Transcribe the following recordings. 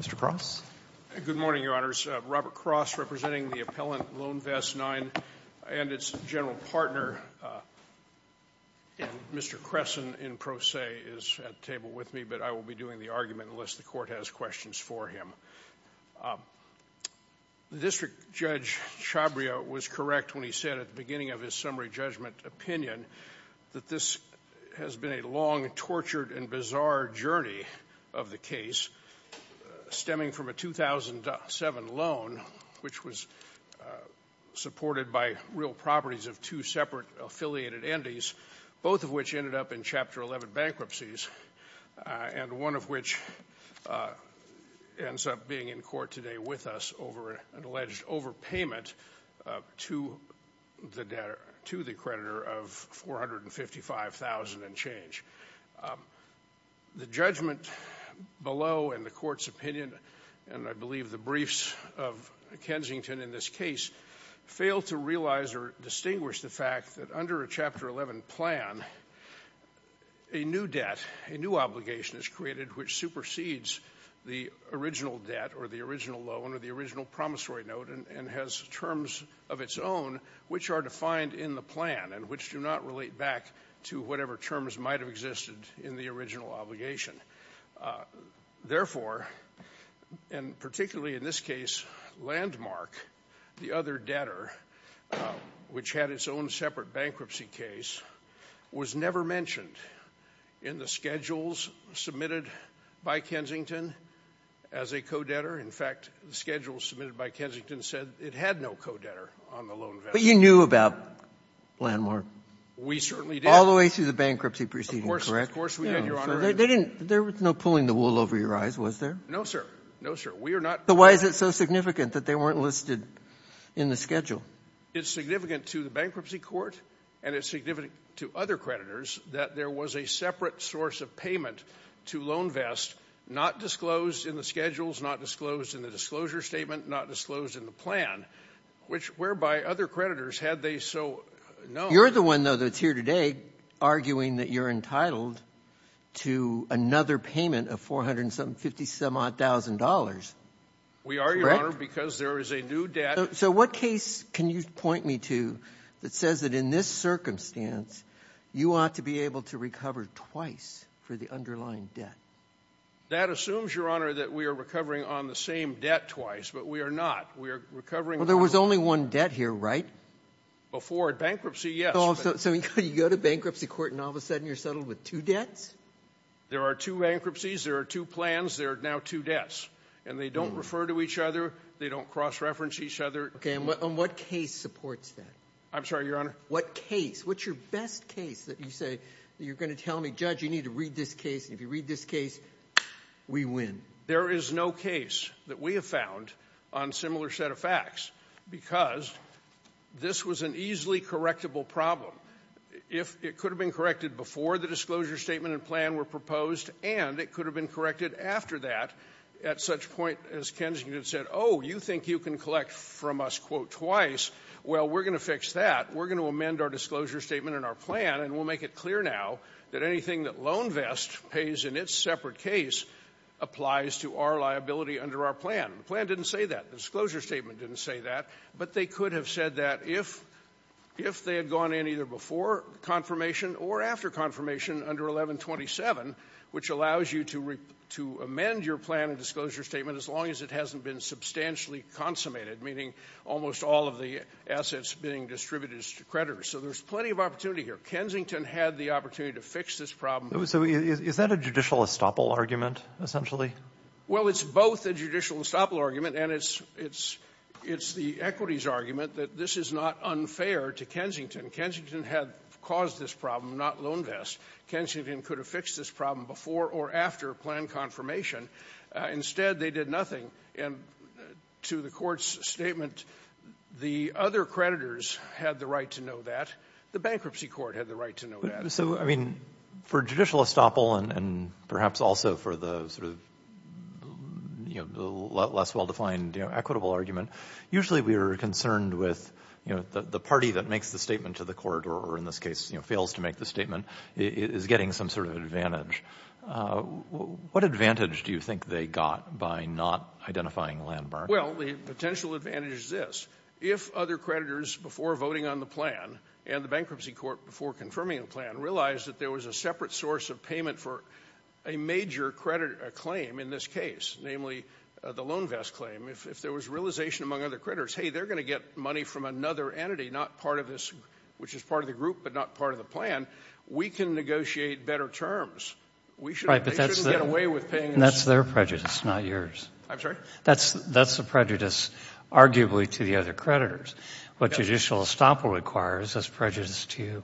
Mr. Cross. Good morning, Your Honors. Robert Cross, representing the appellant Loanvest IX and its general partner. And Mr. Cresson, in pro se, is at the table with me, but I will be doing the argument unless the Court has questions for him. District Judge Chabria was correct when he said at the beginning of his summary judgment opinion that this has been a long, tortured, and bizarre journey of the case stemming from a 2007 loan, which was supported by real properties of two separate affiliated endies, both of which ended up in Chapter 11 bankruptcies, and one of which ends up being in court today with us over an alleged overpayment to the debtor, to the creditor, of $455,000 and change. The judgment below and the Court's opinion, and I believe the briefs of Kensington in this case, failed to realize or distinguish the fact that under a Chapter 11 plan, a new debt, a new obligation is created which supersedes the original debt or the original loan or the original promissory note and has terms of its own which are defined in the plan and which do not relate back to whatever terms might have existed in the original obligation. Therefore, and particularly in this case, Landmark, the other debtor, which had its own separate bankruptcy case, was never mentioned in the schedules submitted by Kensington as a co-debtor. In fact, the schedule submitted by Kensington said it had no co-debtor on the loan. But you knew about Landmark? We certainly did. All the way through the bankruptcy proceedings, correct? Of course, we did, Your Honor. They didn't, there was no pulling the wool over your eyes, was there? No, sir. No, sir. We are not. So why is it so significant that they weren't listed in the schedule? It's significant to the extent that there was a separate source of payment to LoanVest, not disclosed in the schedules, not disclosed in the disclosure statement, not disclosed in the plan, whereby other creditors, had they so known. You're the one, though, that's here today arguing that you're entitled to another payment of $450,000. We are, Your Honor, because there is a new debt. So what case can you point me to that says that in this circumstance, you ought to be able to recover twice for the underlying debt? That assumes, Your Honor, that we are recovering on the same debt twice, but we are not. We are recovering on the same debt. Well, there was only one debt here, right? Before bankruptcy, yes. So you go to bankruptcy court and all of a sudden you're settled with two debts? There are two bankruptcies, there are two plans, there are now two debts. And they don't refer to each other, they don't cross-reference each other. Okay, and what case supports that? I'm sorry, Your Honor? What case? What's your best case that you say, you're going to tell me, Judge, you need to read this case, and if you read this case, we win? There is no case that we have found on similar set of facts, because this was an easily correctable problem. If it could have been corrected before the disclosure statement and plan were proposed, and it could have been corrected after that, at such point as Kensington said, oh, you think you can collect from us, quote, twice, well, we're going to amend our disclosure statement and our plan, and we'll make it clear now that anything that LoanVest pays in its separate case applies to our liability under our plan. The plan didn't say that. The disclosure statement didn't say that. But they could have said that if they had gone in either before confirmation or after confirmation under 1127, which allows you to amend your plan and disclosure statement as long as it hasn't been substantially consummated, meaning almost all of the assets being distributed to creditors. So there's plenty of opportunity here. Kensington had the opportunity to fix this problem. So is that a judicial estoppel argument, essentially? Well, it's both a judicial estoppel argument, and it's the equities argument that this is not unfair to Kensington. Kensington had caused this problem, not LoanVest. Kensington could have fixed this problem before or after plan confirmation. Instead, they did nothing. And to the Court's statement, the other creditors had the right to know that. The bankruptcy court had the right to know that. So, I mean, for judicial estoppel and perhaps also for the sort of, you know, less well-defined equitable argument, usually we are concerned with, you know, the party that makes the statement to the court, or in this case, you know, fails to make the statement, is getting some sort of advantage. What advantage do you think they got by not identifying Landberg? Well, the potential advantage is this. If other creditors, before voting on the plan, and the bankruptcy court, before confirming the plan, realized that there was a separate source of payment for a major claim in this case, namely the LoanVest claim, if there was realization among other creditors, hey, they're going to get money from another entity, not part of this, which is part of the group but not part of the plan, we can negotiate better terms. We shouldn't get away with paying this. Right, but that's their prejudice, not yours. I'm sorry? That's the prejudice, arguably, to the other creditors. What judicial estoppel requires is prejudice to you.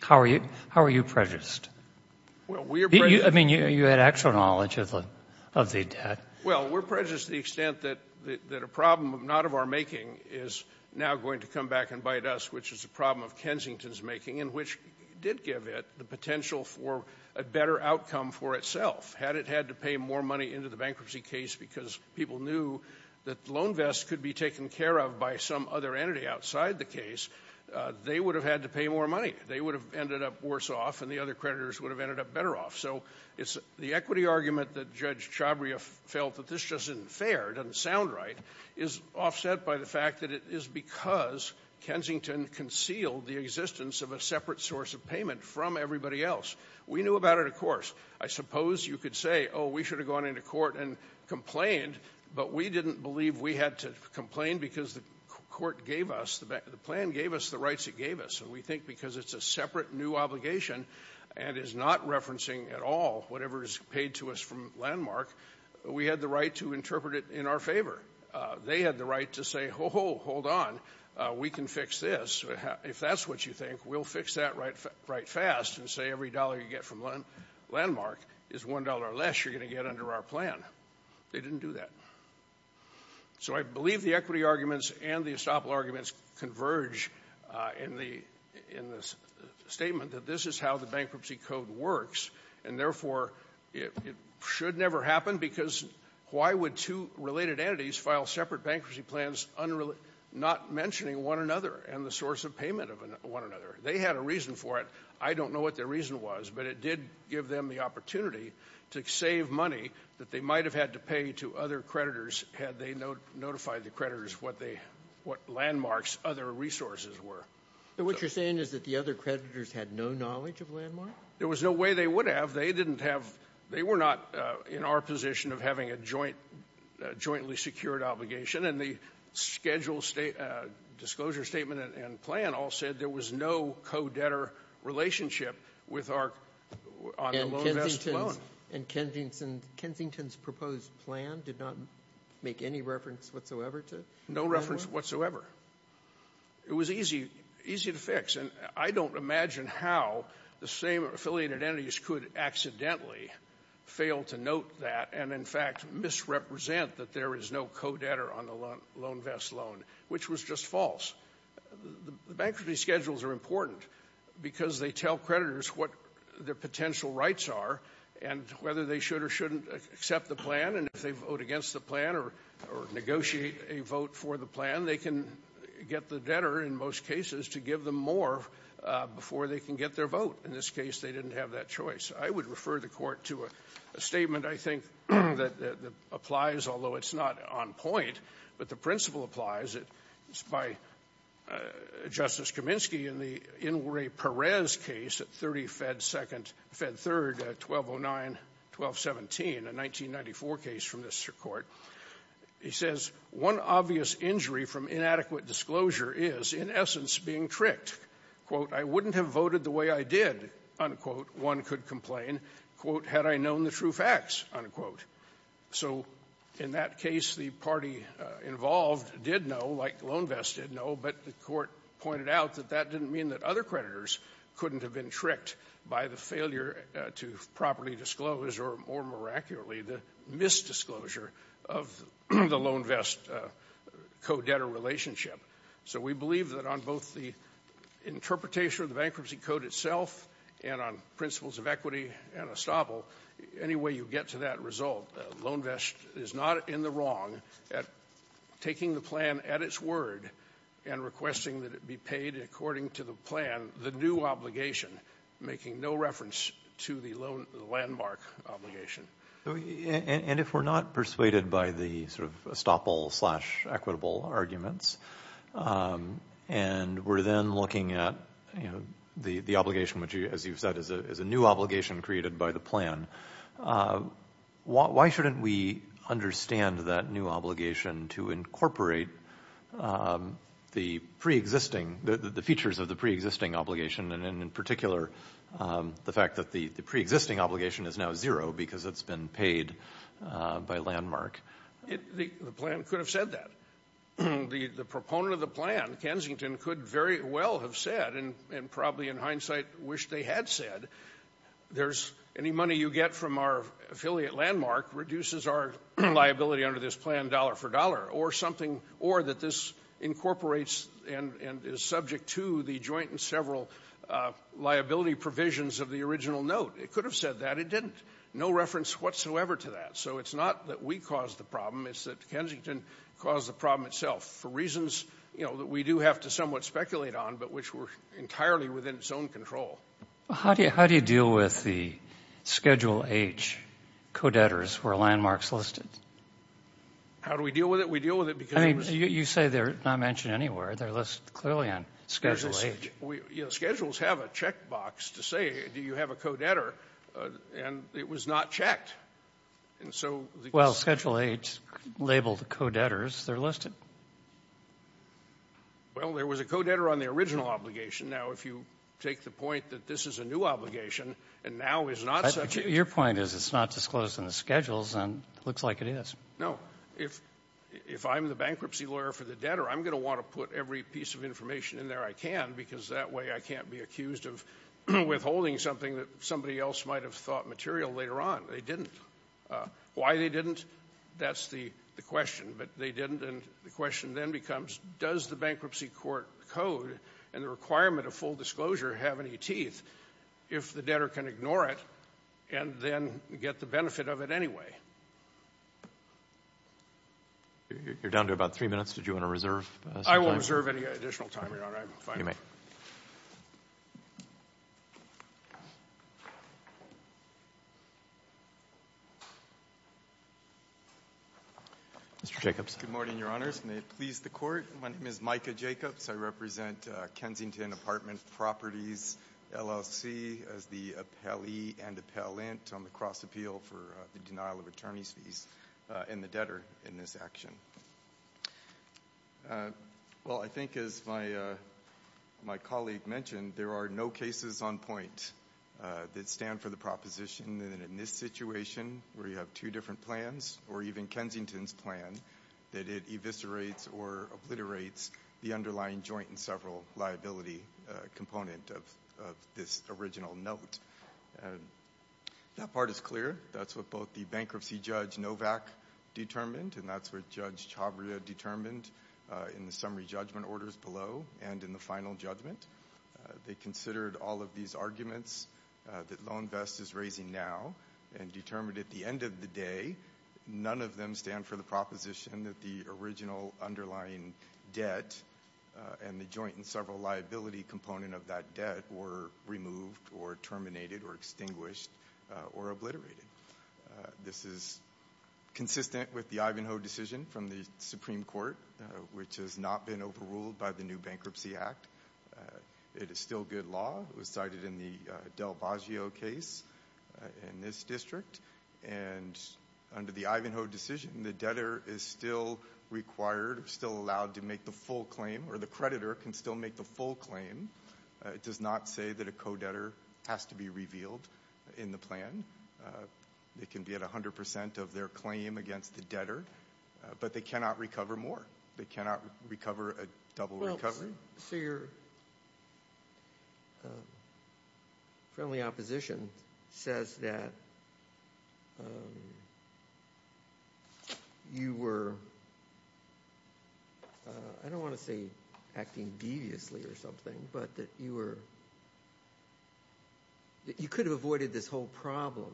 How are you prejudiced? Well, we are prejudiced. I mean, you had actual knowledge of the debt. Well, we're prejudiced to the extent that a problem not of our making is now going to come back and bite us, which is a problem of Kensington's making, and which did give it the potential for a better outcome for itself. Had it had to pay more money into the bankruptcy case because people knew that LoanVest could be taken care of by some other entity outside the case, they would have had to pay more money. They would have ended up worse off, and the other creditors would have ended up better off. So it's the equity argument that Judge Chabria felt that this just isn't fair, doesn't sound right, is offset by the fact that it is because Kensington concealed the existence of a separate source of payment from everybody else. We knew about it, of course. I suppose you could say, oh, we should have gone into court and complained, but we didn't believe we had to complain because the court gave us, the plan gave us the rights it gave us. And we think because it's a separate new obligation and is not referencing at all whatever is paid to us from Landmark, we had the right to interpret it in our favor. They had the right to say, oh, hold on, we can fix this. If that's what you think, we'll fix that right fast and say every dollar you get from Landmark is one dollar less you're going to get under our plan. They didn't do that. So I believe the equity arguments and the estoppel arguments converge in the statement that this is how the bankruptcy code works, and therefore, it should never happen because why would two related entities file separate bankruptcy plans not mentioning one another and the source of payment of one another? They had a reason for it. I don't know what their reason was, but it did give them the opportunity to save money that they might have had to pay to other creditors had they notified the creditors what Landmark's other resources were. So what you're saying is that the other creditors had no knowledge of Landmark? There was no way they would have. They didn't have they were not in our position of having a jointly secured obligation and the schedule state disclosure statement and plan all said there was no co-debtor relationship with our on the loan vest loan. And Kensington's proposed plan did not make any reference whatsoever to Landmark? No reference whatsoever. It was easy to fix, and I don't imagine how the same affiliated entities could accidentally fail to note that and, in fact, misrepresent that there is no co-debtor on the loan vest loan, which was just false. The bankruptcy schedules are important because they tell creditors what their potential rights are and whether they should or shouldn't accept the plan. And if they vote against the plan or negotiate a vote for the plan, they can get the debtor in most cases to give them more before they can get their vote. In this case, they didn't have that choice. I would refer the Court to a statement, I think, that applies, although it's not on point, but the principle applies. It's by Justice Kaminsky in the Inouye-Perez case at 30 Fed 2nd Fed 3rd, 1209-1217, a 1994 case from this Court. He says, one obvious injury from inadequate disclosure is, in essence, being tricked. Quote, I wouldn't have voted the way I did. Unquote. One could complain. Quote, had I known the true facts. Unquote. So in that case, the party involved did know, like the loan vest did know, but the Court pointed out that that didn't mean that other creditors couldn't have been tricked by the failure to properly disclose or, more miraculously, the misdisclosure of the loan vest co-debtor relationship. So we believe that on both the interpretation of the bankruptcy code itself and on principles of equity and estoppel, any way you get to that result, the loan vest is not in the wrong at taking the plan at its word and requesting that it be paid according to the plan, the new obligation, making no reference to the landmark obligation. And if we're not persuaded by the sort of estoppel-slash-equitable arguments and we're then looking at the obligation, which, as you've said, is a new obligation created by the plan, why shouldn't we understand that new obligation to incorporate the pre-existing, the features of the pre-existing obligation and, in particular, the fact that the pre-existing obligation is now zero because it's been paid by landmark? The plan could have said that. The proponent of the plan, Kensington, could very well have said, and probably in hindsight wish they had said, there's any money you get from our affiliate landmark reduces our liability under this plan dollar for dollar, or something, or that this incorporates and is subject to the joint and several liability provisions of the original note. It could have said that. It didn't. No reference whatsoever to that. So it's not that we caused the problem. It's that Kensington caused the problem itself for reasons, you know, that we do have to somewhat speculate on, but which were entirely within its own control. How do you deal with the Schedule H co-debtors who are landmarks listed? How do we deal with it? We deal with it because... I mean, you say they're not mentioned anywhere. They're listed clearly on Schedule H. Schedules have a checkbox to say, do you have a co-debtor, and it was not checked. And so... Well, Schedule H labeled the co-debtors. They're listed. Well, there was a co-debtor on the original obligation. Now, if you take the point that this is a new obligation and now is not such a... Your point is it's not disclosed in the Schedules, and it looks like it is. No. If I'm the bankruptcy lawyer for the debtor, I'm going to want to put every piece of information in there I can because that way I can't be accused of withholding something that somebody else might have thought material later on. They didn't. Why they didn't, that's the question. But they didn't, and the question then becomes, does the bankruptcy court code and the requirement of full disclosure have any teeth if the debtor can ignore it and then get the benefit of it anyway? You're down to about three minutes. Did you want to reserve some time? I will reserve any additional time, Your Honor. I'm fine. Mr. Jacobs. Good morning, Your Honors. May it please the Court. My name is Micah Jacobs. I represent Kensington Apartment Properties LLC as the appellee and appellant on the cross appeal for the denial of attorney's fees in the debtor in this action. Well, I think as my colleague mentioned, there are no cases on point that stand for the proposition that in this situation where you have two different plans or even Kensington's plan, that it eviscerates or obliterates the underlying joint and several liability component of this original note. That part is clear. That's what both the bankruptcy judge Novak determined, and that's what Judge Chavria determined in the summary judgment orders below and in the final judgment. They considered all of these arguments that LoanVest is raising now and determined at the end of the day, none of them stand for the proposition that the original underlying debt and the joint and several liability component of that debt were removed or terminated or extinguished or obliterated. This is consistent with the Ivanhoe decision from the Supreme Court, which has not been overruled by the new Bankruptcy Act. It is still good law. It was cited in the Del Baggio case in this district, and under the Ivanhoe decision, the debtor is still required, still allowed to make the full claim or the creditor can still make the full claim. It does not say that a co-debtor has to be revealed in the plan. They can be at 100% of their claim against the debtor, but they cannot recover more. They cannot recover a double recovery. So your friendly opposition says that you were, I don't want to say acting deviously or something, but that you were, that you could have avoided this whole problem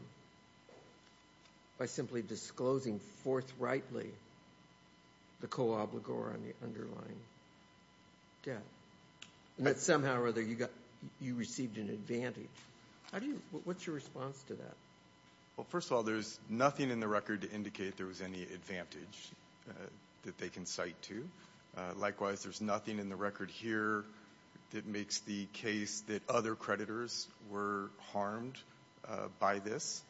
by simply disclosing forthrightly the co-obligor on the underlying debt, and that somehow or other you received an advantage. What's your response to that? Well, first of all, there's nothing in the record to indicate there was any advantage that they can cite to. Likewise, there's nothing in the record here that makes the case that other creditors were harmed by this.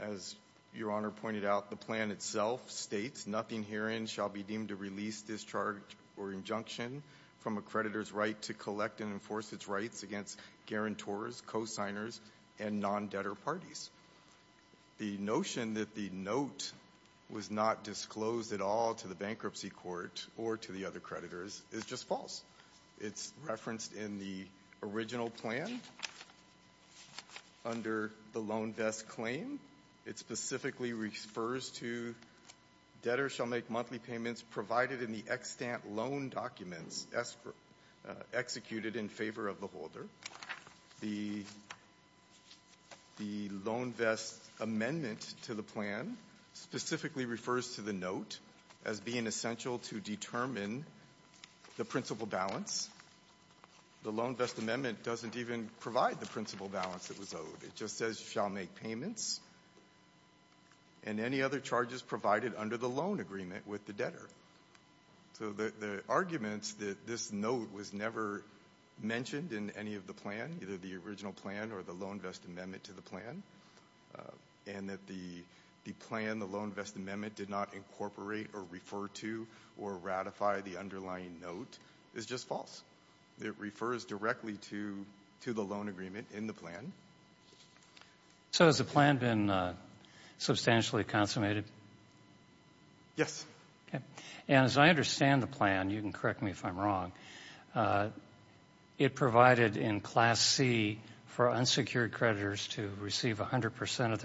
As your Honor pointed out, the plan itself states, nothing herein shall be deemed to release, discharge, or injunction from a creditor's right to collect and enforce its rights against guarantors, cosigners, and non-debtor parties. The notion that the note was not disclosed at all to the bankruptcy court or to the other creditors is just false. It's referenced in the original plan under the loan desk claim. It specifically refers to debtor shall make monthly payments provided in the extant loan documents executed in favor of the holder. The loan vest amendment to the plan specifically refers to the note as being essential to determine the principal balance. The loan vest amendment doesn't even provide the principal balance that was owed. It just says shall make payments and any other charges provided under the loan agreement with the debtor. So the arguments that this note was never mentioned in any of the plan, either the original plan or the loan vest amendment to the plan, and that the plan, the loan vest amendment did not incorporate or refer to or ratify the underlying note is just false. It refers directly to the loan agreement in the plan. So has the plan been substantially consummated? Yes. And as I understand the plan, you can correct me if I'm wrong, it provided in Class C for unsecured creditors to receive 100 percent of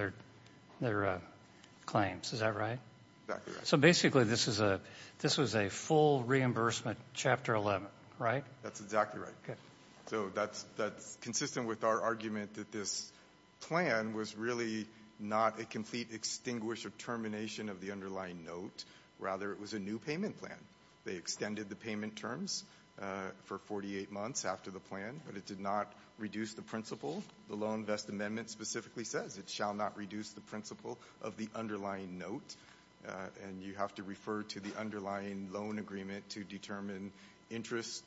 their claims. Is that right? Exactly right. So basically this was a full reimbursement Chapter 11, right? That's exactly right. So that's consistent with our argument that this plan was really not a complete extinguish or termination of the underlying note. Rather, it was a new payment plan. They extended the payment terms for 48 months after the plan, but it did not reduce the The loan vest amendment specifically says it shall not reduce the principal of the underlying note and you have to refer to the underlying loan agreement to determine interest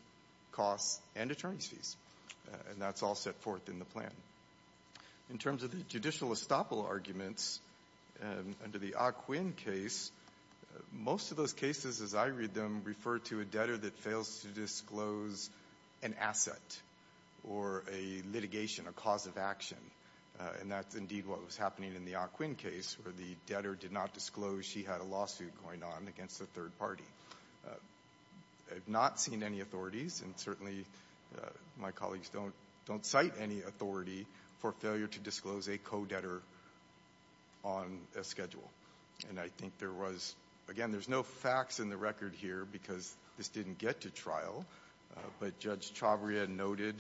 costs and attorney's fees. And that's all set forth in the plan. In terms of the judicial estoppel arguments, under the Ah Quin case, most of those cases as I read them refer to a debtor that fails to disclose an asset or a litigation, a cause of action. And that's indeed what was happening in the Ah Quin case where the debtor did not disclose she had a lawsuit going on against the third party. I have not seen any authorities and certainly my colleagues don't cite any authority for failure to disclose a co-debtor on a schedule. And I think there was, again, there's no facts in the record here because this didn't get to trial, but Judge Chavria noted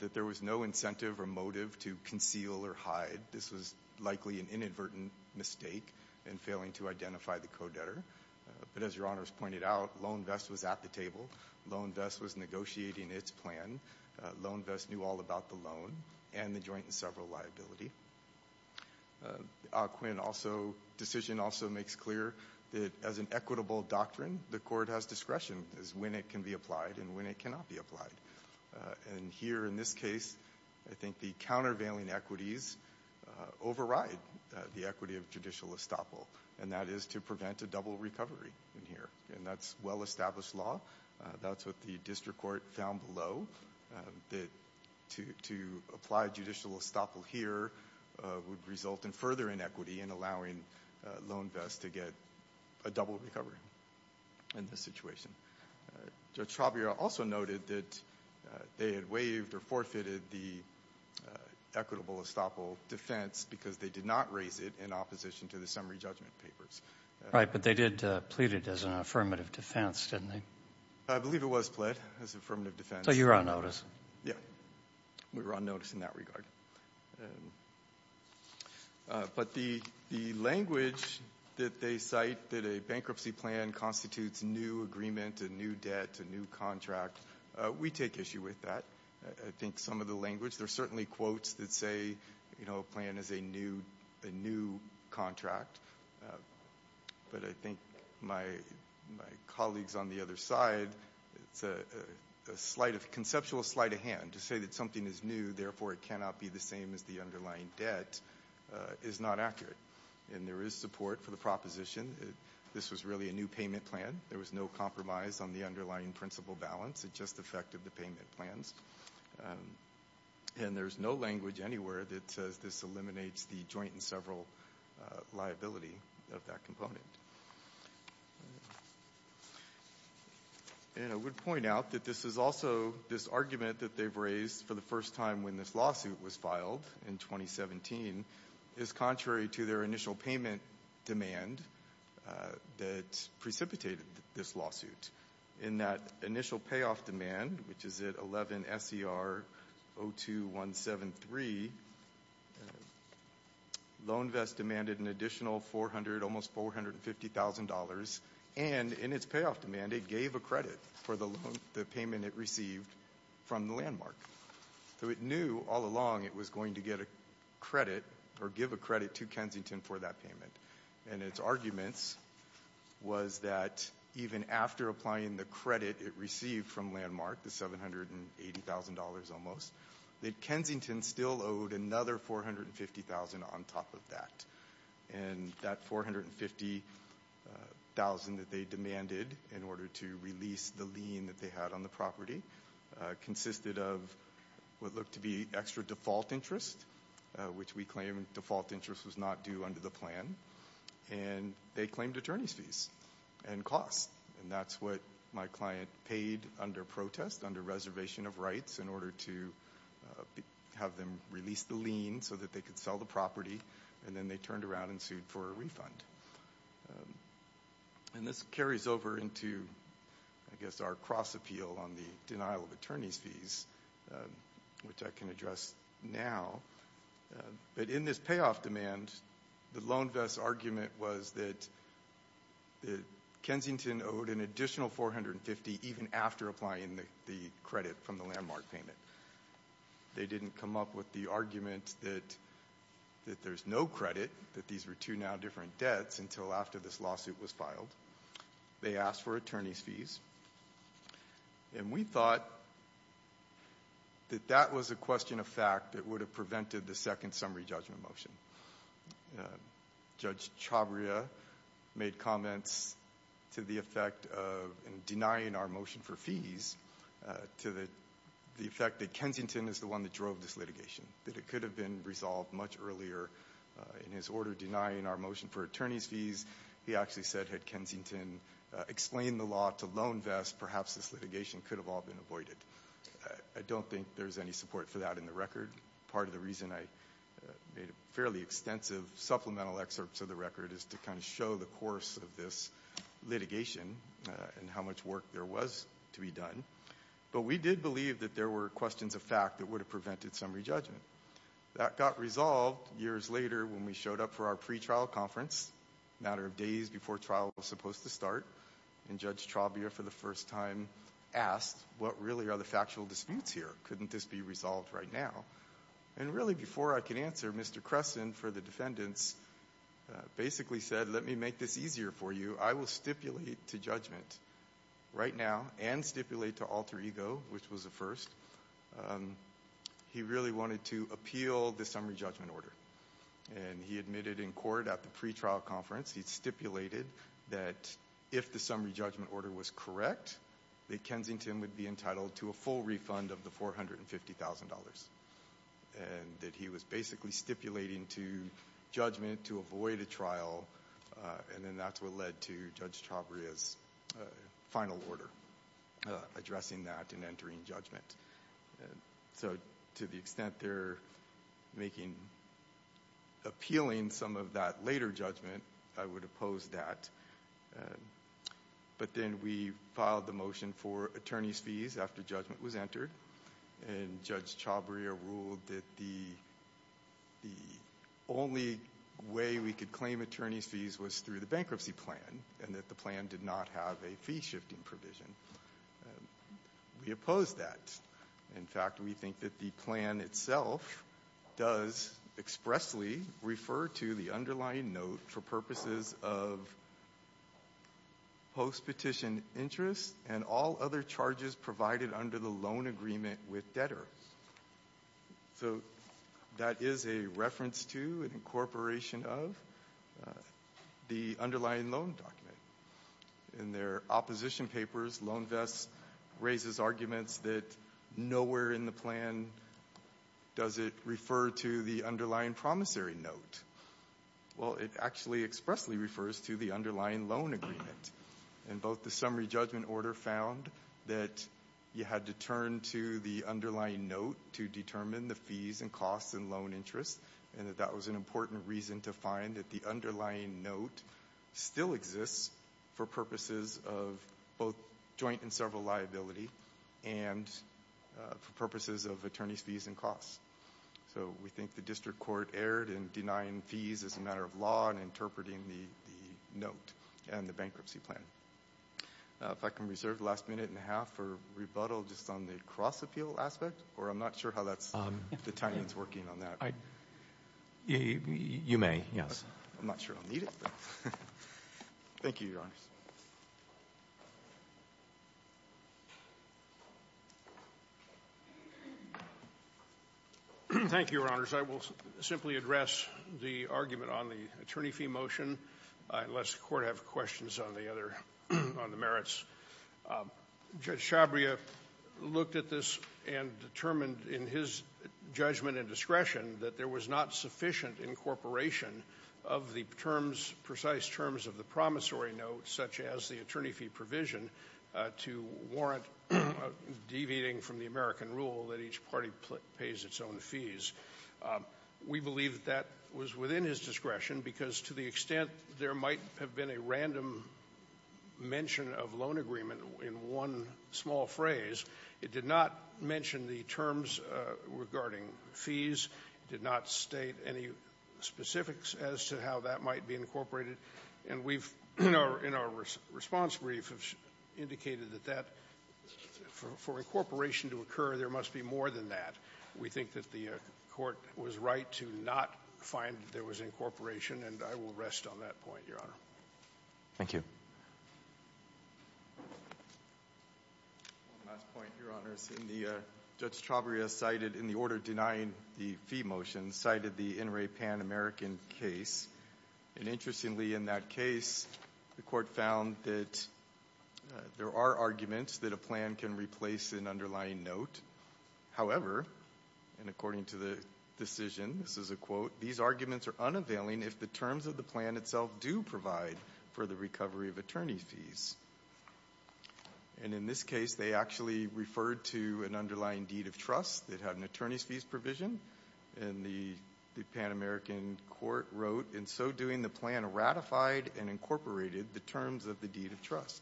that there was no incentive or motive to conceal or hide. This was likely an inadvertent mistake in failing to identify the co-debtor. But as your honors pointed out, LoanVest was at the table. LoanVest was negotiating its plan. LoanVest knew all about the loan and the joint and several liability. Ah Quin also, decision also makes clear that as an equitable doctrine, the court has discretion as when it can be applied and when it cannot be applied. And here in this case, I think the countervailing equities override the equity of judicial estoppel and that is to prevent a double recovery in here. And that's well-established law. That's what the district court found below that to apply judicial estoppel here would result in further inequity and allowing LoanVest to get a double recovery in this situation. Judge Chavria also noted that they had waived or forfeited the equitable estoppel defense because they did not raise it in opposition to the summary judgment papers. But they did plead it as an affirmative defense, didn't they? I believe it was pled as affirmative defense. So you were on notice? Yeah. We were on notice in that regard. But the language that they cite that a bankruptcy plan constitutes new agreement, a new debt, a new contract, we take issue with that. I think some of the language. There's certainly quotes that say, you know, a plan is a new contract. But I think my colleagues on the other side, it's a conceptual sleight of hand to say that something is new, therefore it cannot be the same as the underlying debt is not accurate. And there is support for the proposition. This was really a new payment plan. There was no compromise on the underlying principal balance. It just affected the payment plans. And there's no language anywhere that says this eliminates the joint and several liability of that component. And I would point out that this is also this argument that they've raised for the first time when this lawsuit was filed in 2017 is contrary to their initial payment demand that precipitated this lawsuit. In that initial payoff demand, which is at 11SER02173, LoanVest demanded an additional $400,000, almost $450,000. And in its payoff demand, it gave a credit for the payment it received from the landmark. So it knew all along it was going to get a credit or give a credit to Kensington for that payment. And its arguments was that even after applying the credit it received from Landmark, the $780,000 almost, that Kensington still owed another $450,000 on top of that. And that $450,000 that they demanded in order to release the lien that they had on the property consisted of what looked to be extra default interest, which we claim default interest was not due under the plan. And they claimed attorney's fees and costs. And that's what my client paid under protest, under reservation of rights in order to have them release the lien so that they could sell the property. And then they turned around and sued for a refund. And this carries over into, I guess, our cross appeal on the denial of attorney's fees, which I can address now. But in this payoff demand, the loan vest argument was that Kensington owed an additional $450,000 even after applying the credit from the Landmark payment. They didn't come up with the argument that there's no credit, that these were two now different debts until after this lawsuit was filed. They asked for attorney's fees. And we thought that that was a question of fact that would have prevented the second summary judgment motion. Judge Chhabria made comments to the effect of denying our motion for fees to the effect that Kensington is the one that drove this litigation, that it could have been resolved much earlier in his order denying our motion for attorney's fees. He actually said, had Kensington explained the law to loan vests, perhaps this litigation could have all been avoided. I don't think there's any support for that in the record. Part of the reason I made a fairly extensive supplemental excerpt to the record is to kind of show the course of this litigation and how much work there was to be done. But we did believe that there were questions of fact that would have prevented summary judgment. That got resolved years later when we showed up for our pretrial conference, a matter of days before trial was supposed to start. And Judge Chhabria for the first time asked, what really are the factual disputes here? Couldn't this be resolved right now? And really before I could answer, Mr. Cresson for the defendants basically said, let me make this easier for you. I will stipulate to judgment right now and stipulate to alter ego, which was the first. He really wanted to appeal the summary judgment order. And he admitted in court at the pretrial conference, he stipulated that if the summary judgment order was correct, that Kensington would be entitled to a full refund of the $450,000. And that he was basically stipulating to judgment to avoid a trial. And then that's what led to Judge Chhabria's final order, addressing that and entering judgment. And so to the extent they're making appealing some of that later judgment, I would oppose that. But then we filed the motion for attorney's fees after judgment was entered. And Judge Chhabria ruled that the only way we could claim attorney's fees was through the bankruptcy plan and that the plan did not have a fee shifting provision. And we oppose that. In fact, we think that the plan itself does expressly refer to the underlying note for purposes of post-petition interest and all other charges provided under the loan agreement with debtors. So that is a reference to an incorporation of the underlying loan document. In their opposition papers, LoanVest raises arguments that nowhere in the plan does it refer to the underlying promissory note. Well, it actually expressly refers to the underlying loan agreement. And both the summary judgment order found that you had to turn to the underlying note to determine the fees and costs and loan interest. And that was an important reason to find that the underlying note still exists for purposes of both joint and several liability and for purposes of attorney's fees and costs. So we think the district court erred in denying fees as a matter of law and interpreting the note and the bankruptcy plan. If I can reserve the last minute and a half for rebuttal just on the cross-appeal aspect, or I'm not sure how the time is working on that. You may, yes. I'm not sure I'll need it. Thank you, Your Honors. Thank you, Your Honors. I will simply address the argument on the attorney fee motion, unless the Court has questions on the other, on the merits. Judge Shabria looked at this and determined in his judgment and discretion that there was not sufficient incorporation of the terms, precise terms of the promissory note, such as the attorney fee provision, to warrant deviating from the American rule that each party pays its own fees. We believe that that was within his discretion because to the extent there might have been a random mention of loan agreement in one small phrase, it did not mention the terms regarding fees. It did not state any specifics as to how that might be incorporated. And we've, in our response brief, indicated that that, for incorporation to occur, there must be more than that. We think that the Court was right to not find that there was incorporation, and I will rest on that point, Your Honor. Thank you. One last point, Your Honors. In the, Judge Shabria cited, in the order denying the fee motion, cited the NRA Pan-American case, and interestingly in that case, the Court found that there are arguments that a plan can replace an underlying note. However, and according to the decision, this is a quote, these arguments are unavailing if the terms of the plan itself do provide for the recovery of attorney fees. And in this case, they actually referred to an underlying deed of trust that had an attorney's fees provision, and the Pan-American Court wrote, in so doing, the plan ratified and incorporated the terms of the deed of trust.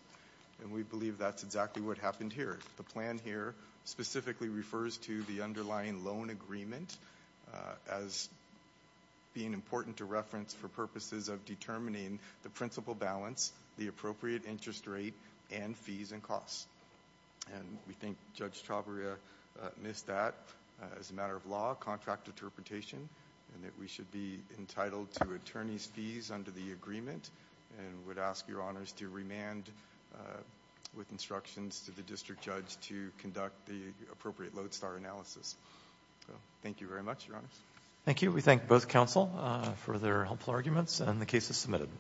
And we believe that's exactly what happened here. The plan here specifically refers to the underlying loan agreement as being important to reference for purposes of determining the principal balance, the appropriate interest rate, and fees and costs. And we think Judge Shabria missed that. As a matter of law, contract interpretation, and that we should be entitled to attorney's fees under the agreement, and would ask Your Honors to remand with instructions to the district judge to conduct the appropriate lodestar analysis. Thank you very much, Your Honors. Thank you. We thank both counsel for their helpful arguments, and the case is submitted.